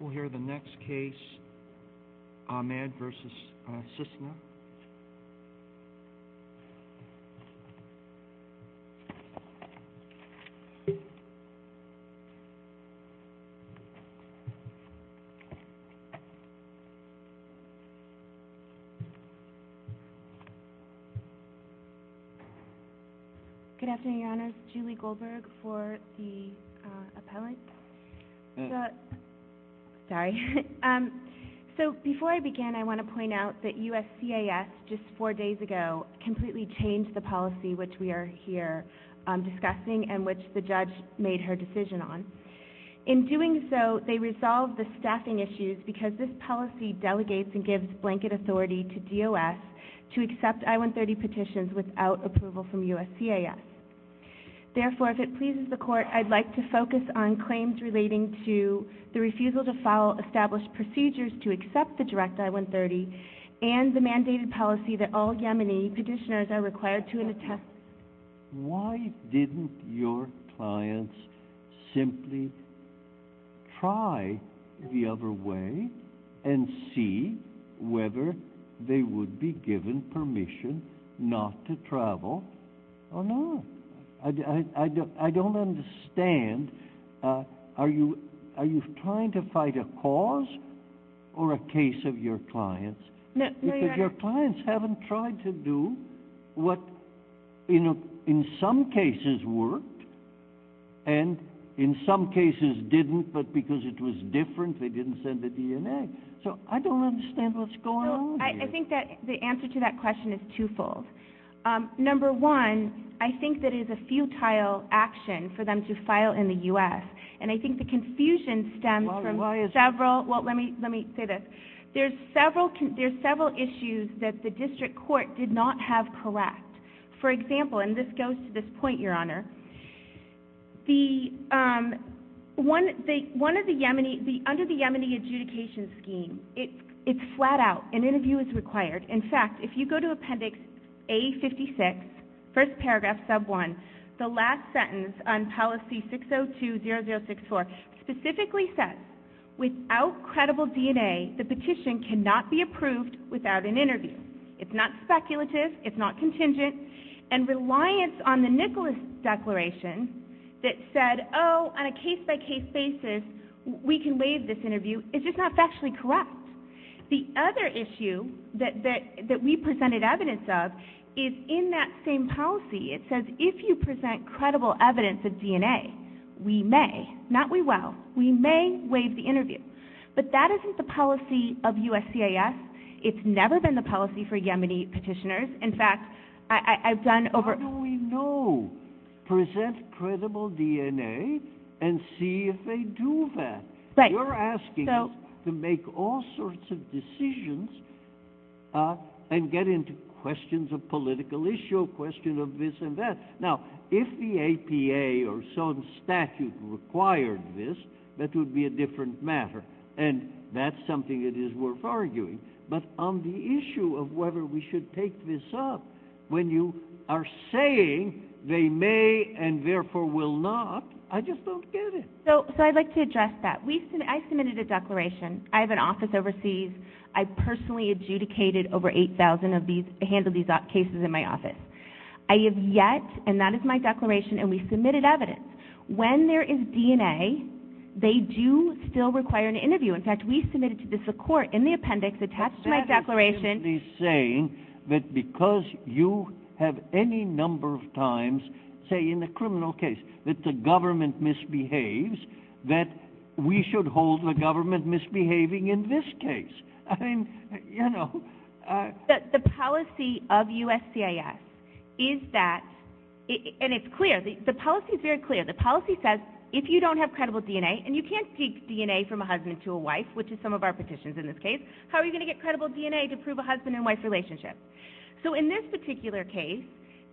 We'll hear the next case, Ahmed v. Cissna. Good afternoon, Your Honors. Julie Goldberg for the appellate. Sorry. So before I begin, I want to point out that USCIS, just four days ago, completely changed the policy which we are here discussing and which the judge made her decision on. In doing so, they resolved the staffing issues because this policy delegates and gives blanket authority to DOS to accept I-130 petitions without approval from USCIS. Therefore, if it pleases the court, I'd like to focus on claims relating to the refusal to follow established procedures to accept the direct I-130 and the mandated policy that all Yemeni petitioners are required to attest. Why didn't your clients simply try the other way and see whether they would be given permission not to travel or not? I don't understand. Are you trying to fight a cause or a case of your clients? Because your clients haven't tried to do what in some cases worked and in some cases didn't, but because it was different, they didn't send a DNA. So I don't understand what's going on here. I think that the answer to that question is twofold. Number one, I think that it is a futile action for them to file in the U.S. and I think the confusion stems from several issues that the district court did not have correct. For example, and this goes to this point, Your Honor, under the Yemeni adjudication scheme, it's flat out. An interview is required. In fact, if you go to Appendix A56, first paragraph, sub one, the last sentence on Policy 602-0064 specifically says, without credible DNA, the petition cannot be approved without an interview. It's not speculative. It's not contingent. And reliance on the Nicholas Declaration that said, oh, on a case-by-case basis, we can waive this interview, is just not factually correct. The other issue that we presented evidence of is in that same policy. It says, if you present credible evidence of DNA, we may, not we will, we may waive the interview. But that isn't the policy of USCIS. It's never been the policy for Yemeni petitioners. In fact, I've done over... How do we know? Present credible DNA and see if they do that. You're asking us to make all sorts of decisions and get into questions of political issue, question of this and that. Now, if the APA or some statute required this, that would be a different matter. And that's something that is worth arguing. But on the issue of whether we should take this up, when you are saying they may and therefore will not, I just don't get it. So I'd like to address that. I submitted a declaration. I have an office overseas. I personally adjudicated over 8,000 of these, handled these cases in my office. I have yet, and that is my declaration, and we submitted evidence. When there is DNA, they do still require an interview. In fact, we submitted to the court in the appendix attached to my declaration... ...that we should hold the government misbehaving in this case. I mean, you know... The policy of USCIS is that, and it's clear, the policy is very clear. The policy says if you don't have credible DNA, and you can't take DNA from a husband to a wife, which is some of our petitions in this case, how are you going to get credible DNA to prove a husband and wife relationship? So in this particular case,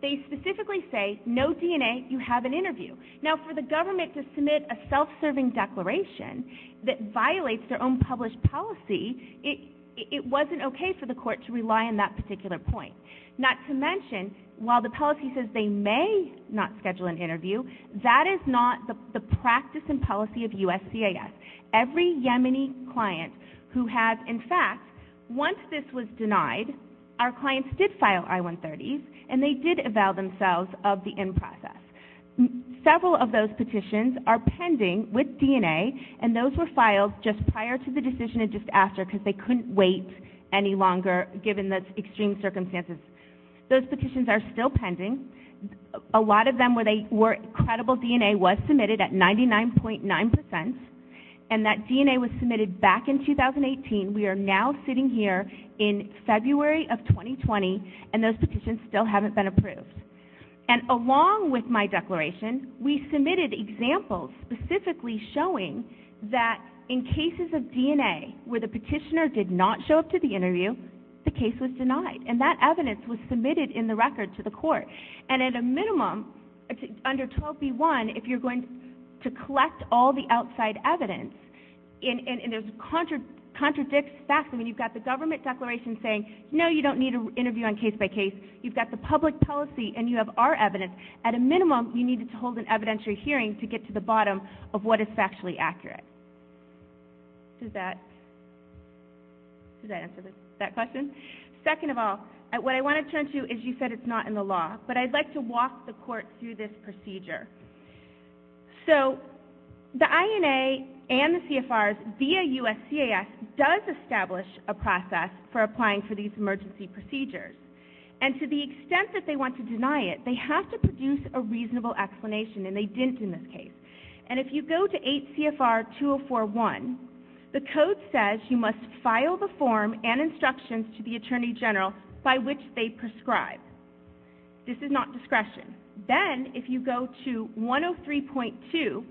they specifically say, no DNA, you have an interview. Now, for the government to submit a self-serving declaration that violates their own published policy, it wasn't okay for the court to rely on that particular point. Not to mention, while the policy says they may not schedule an interview, that is not the practice and policy of USCIS. Every Yemeni client who has, in fact, once this was denied, our clients did file I-130s, and they did avow themselves of the end process. Several of those petitions are pending with DNA, and those were filed just prior to the decision and just after, because they couldn't wait any longer, given the extreme circumstances. Those petitions are still pending. A lot of them were credible DNA was submitted at 99.9%, and that DNA was submitted back in 2018. We are now sitting here in February of 2020, and those petitions still haven't been approved. And along with my declaration, we submitted examples specifically showing that in cases of DNA where the petitioner did not show up to the interview, the case was denied, and that evidence was submitted in the record to the court. And at a minimum, under 12b-1, if you're going to collect all the outside evidence, and it contradicts, I mean, you've got the government declaration saying, no, you don't need an interview on case-by-case. You've got the public policy, and you have our evidence. At a minimum, you need to hold an evidentiary hearing to get to the bottom of what is factually accurate. Does that answer that question? Second of all, what I want to turn to is, you said it's not in the law, but I'd like to walk the court through this procedure. So, the INA and the CFRs via USCIS does establish a process for applying for these emergency procedures. And to the extent that they want to deny it, they have to produce a reasonable explanation, and they didn't in this case. And if you go to 8 CFR 2041, the code says you must file the form and instructions to the Attorney General by which they prescribe. This is not discretion. Then, if you go to 103.2,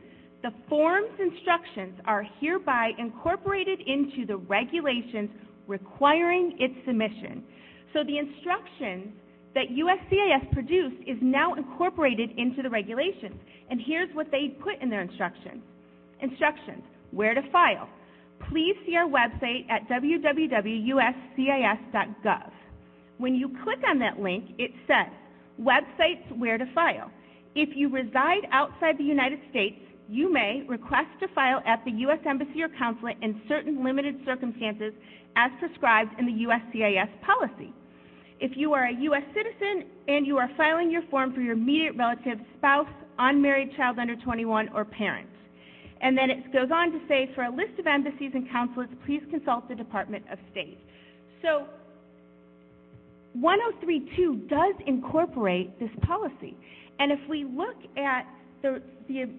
the form's instructions are hereby incorporated into the regulations requiring its submission. So, the instruction that USCIS produced is now incorporated into the regulations. And here's what they put in their instructions. Instructions. Where to file. Please see our website at www.uscis.gov. When you click on that link, it says, websites where to file. If you reside outside the United States, you may request to file at the U.S. Embassy or Consulate in certain limited circumstances as prescribed in the USCIS policy. If you are a U.S. citizen and you are filing your form for your immediate relative, spouse, unmarried child under 21, or parents. And then it goes on to say, for a list of embassies and consulates, please consult the Department of State. So, 103.2 does incorporate this policy. And if we look at the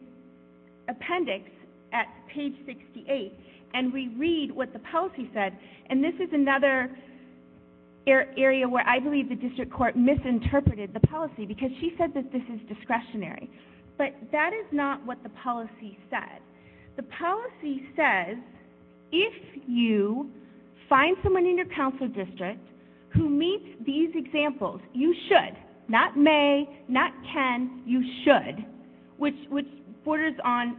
appendix at page 68, and we read what the policy said, and this is another area where I believe the district court misinterpreted the policy, because she said that this is discretionary. But that is not what the policy said. The policy says, if you find someone in your council district who meets these examples, you should, not may, not can, you should. Which borders on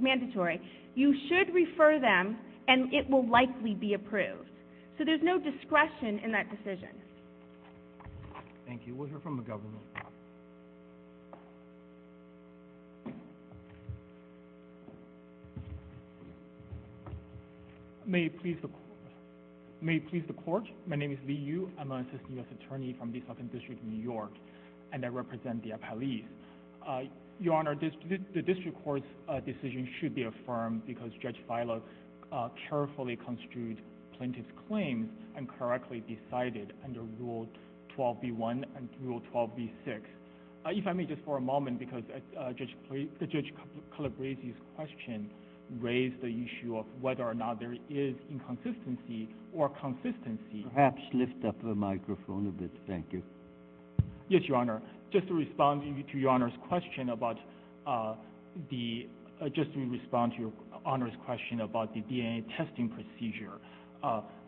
mandatory. You should refer them, and it will likely be approved. So there's no discretion in that decision. Thank you. We'll hear from the government. May it please the court. My name is Li Yu. I'm an assistant U.S. attorney from the Southern District of New York. And I represent the appellees. Your Honor, the district court's decision should be affirmed because Judge Filo carefully construed plaintiff's claims and correctly decided under Rule 12b-1 and Rule 12b-6. If I may, just for a moment, because Judge Calabresi's question raised the issue of whether or not there is inconsistency or consistency. Perhaps lift up the microphone a bit. Thank you. Yes, Your Honor. Just to respond to Your Honor's question about the DNA testing procedure.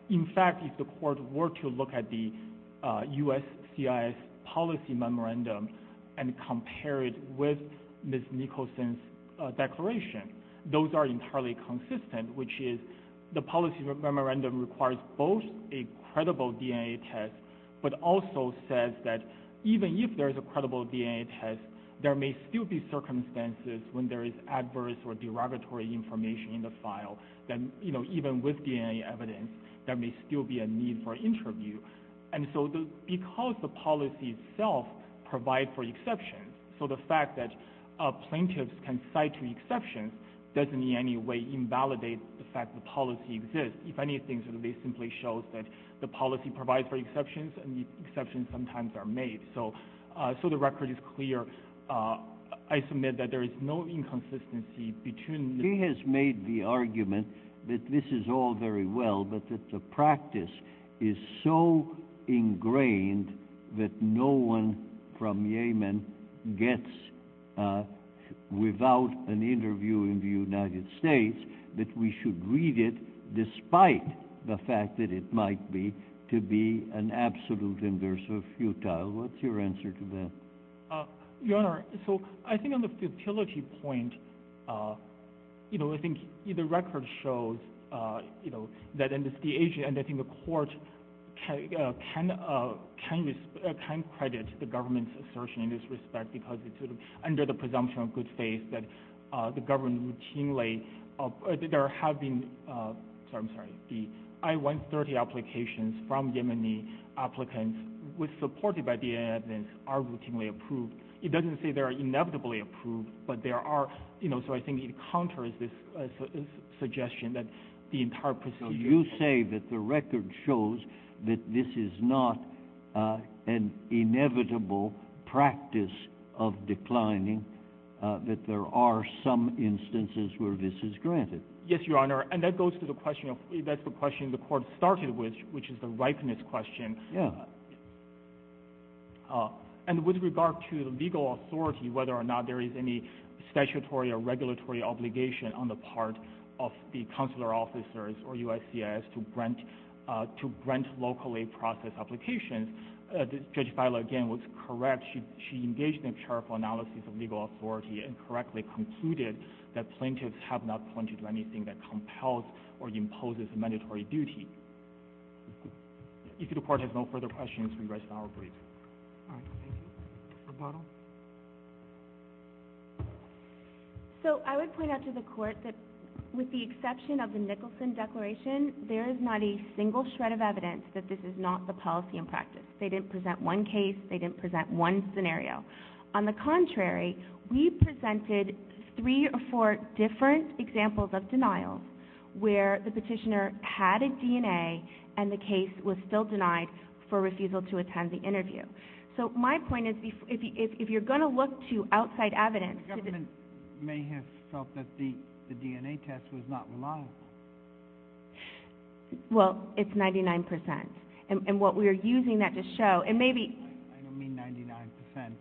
In fact, if the court were to look at the U.S. CIS policy memorandum and compare it with Ms. Nicholson's declaration, those are entirely consistent, which is the policy memorandum requires both a credible DNA test but also says that even if there is a credible DNA test, there may still be circumstances when there is adverse or derogatory information in the file. Then, you know, even with DNA evidence, there may still be a need for interview. And so because the policy itself provides for exceptions, so the fact that plaintiffs can cite exceptions doesn't in any way invalidate the fact that the policy exists. If anything, it simply shows that the policy provides for exceptions and exceptions sometimes are made. So the record is clear. I submit that there is no inconsistency between… He has made the argument that this is all very well, but that the practice is so ingrained that no one from Yemen gets without an interview in the United States that we should read it despite the fact that it might be to be an absolute inverse of futile. What's your answer to that? Your Honor, so I think on the futility point, you know, I think the record shows, you know, that in this case, and I think the court can credit the government's assertion in this respect because it's under the presumption of good faith that the government routinely… There have been… I'm sorry, the I-130 applications from Yemeni applicants with supported by DNA evidence are routinely approved. It doesn't say they are inevitably approved, but there are, you know, so I think it counters this suggestion that the entire procedure… You say that the record shows that this is not an inevitable practice of declining, that there are some instances where this is granted. Yes, Your Honor, and that goes to the question of… that's the question the court started with, which is the ripeness question. Yeah. And with regard to the legal authority, whether or not there is any statutory or regulatory obligation on the part of the consular officers or USCIS to grant locally processed applications, Judge Feiler, again, was correct. She engaged in a careful analysis of legal authority and correctly concluded that plaintiffs have not pointed to anything that compels or imposes a mandatory duty. If the court has no further questions, we rest our brief. All right, thank you. So I would point out to the court that with the exception of the Nicholson Declaration, there is not a single shred of evidence that this is not the policy in practice. They didn't present one case. They didn't present one scenario. On the contrary, we presented three or four different examples of denials where the petitioner had a DNA and the case was still denied for refusal to attend the interview. So my point is, if you're going to look to outside evidence... The government may have felt that the DNA test was not reliable. Well, it's 99%. And what we are using that to show, and maybe... I don't mean 99%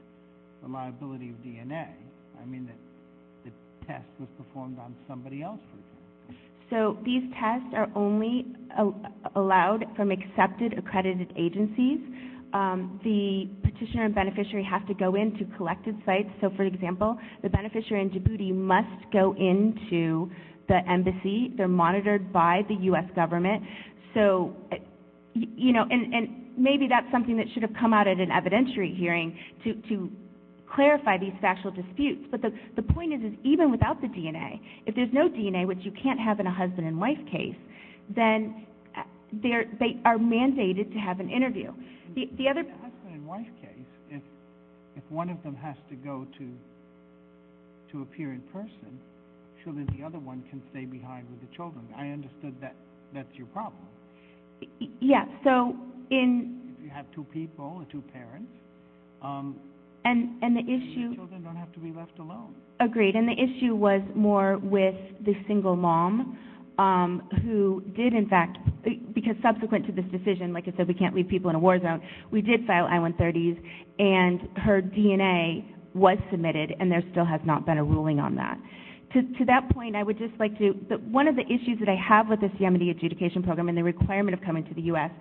reliability of DNA. I mean that the test was performed on somebody else, for example. So these tests are only allowed from accepted accredited agencies. The petitioner and beneficiary have to go in to collected sites. So, for example, the beneficiary in Djibouti must go into the embassy. They're monitored by the U.S. government. So, you know, and maybe that's something that should have come out at an evidentiary hearing to clarify these factual disputes. But the point is, is even without the DNA, if there's no DNA, which you can't have in a husband and wife case, then they are mandated to have an interview. The other... If one of them has to go to appear in person, surely the other one can stay behind with the children. I understood that that's your problem. Yeah, so in... If you have two people or two parents... And the issue... The children don't have to be left alone. Agreed. And the issue was more with the single mom who did, in fact... Because subsequent to this decision, like I said, we can't leave people in a war zone, we did file I-130s, and her DNA was submitted, and there still has not been a ruling on that. To that point, I would just like to... One of the issues that I have with the Yemeni adjudication program and the requirement of coming to the U.S.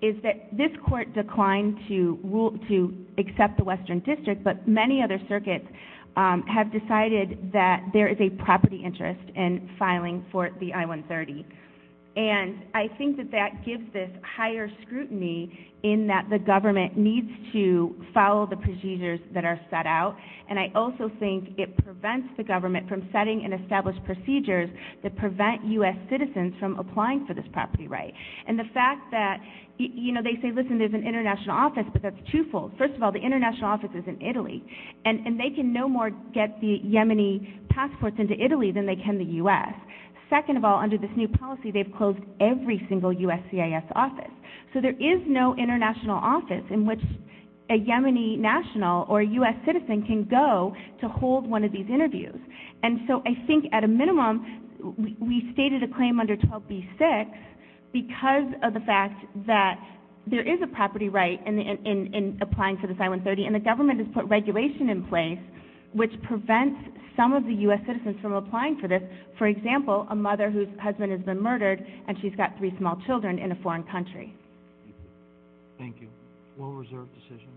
is that this court declined to accept the Western District, but many other circuits have decided that there is a property interest in filing for the I-130. And I think that that gives this higher scrutiny in that the government needs to follow the procedures that are set out, and I also think it prevents the government from setting and established procedures that prevent U.S. citizens from applying for this property right. And the fact that, you know, they say, listen, there's an international office, but that's twofold. First of all, the international office is in Italy, and they can no more get the Yemeni passports into Italy than they can the U.S. Second of all, under this new policy, they've closed every single USCIS office. So there is no international office in which a Yemeni national or U.S. citizen can go to hold one of these interviews. And so I think at a minimum, we stated a claim under 12b-6 because of the fact that there is a property right in applying for this I-130, and the government has put regulation in place which prevents some of the U.S. citizens from applying for this. For example, a mother whose husband has been murdered and she's got three small children in a foreign country. Thank you. Well-reserved decision.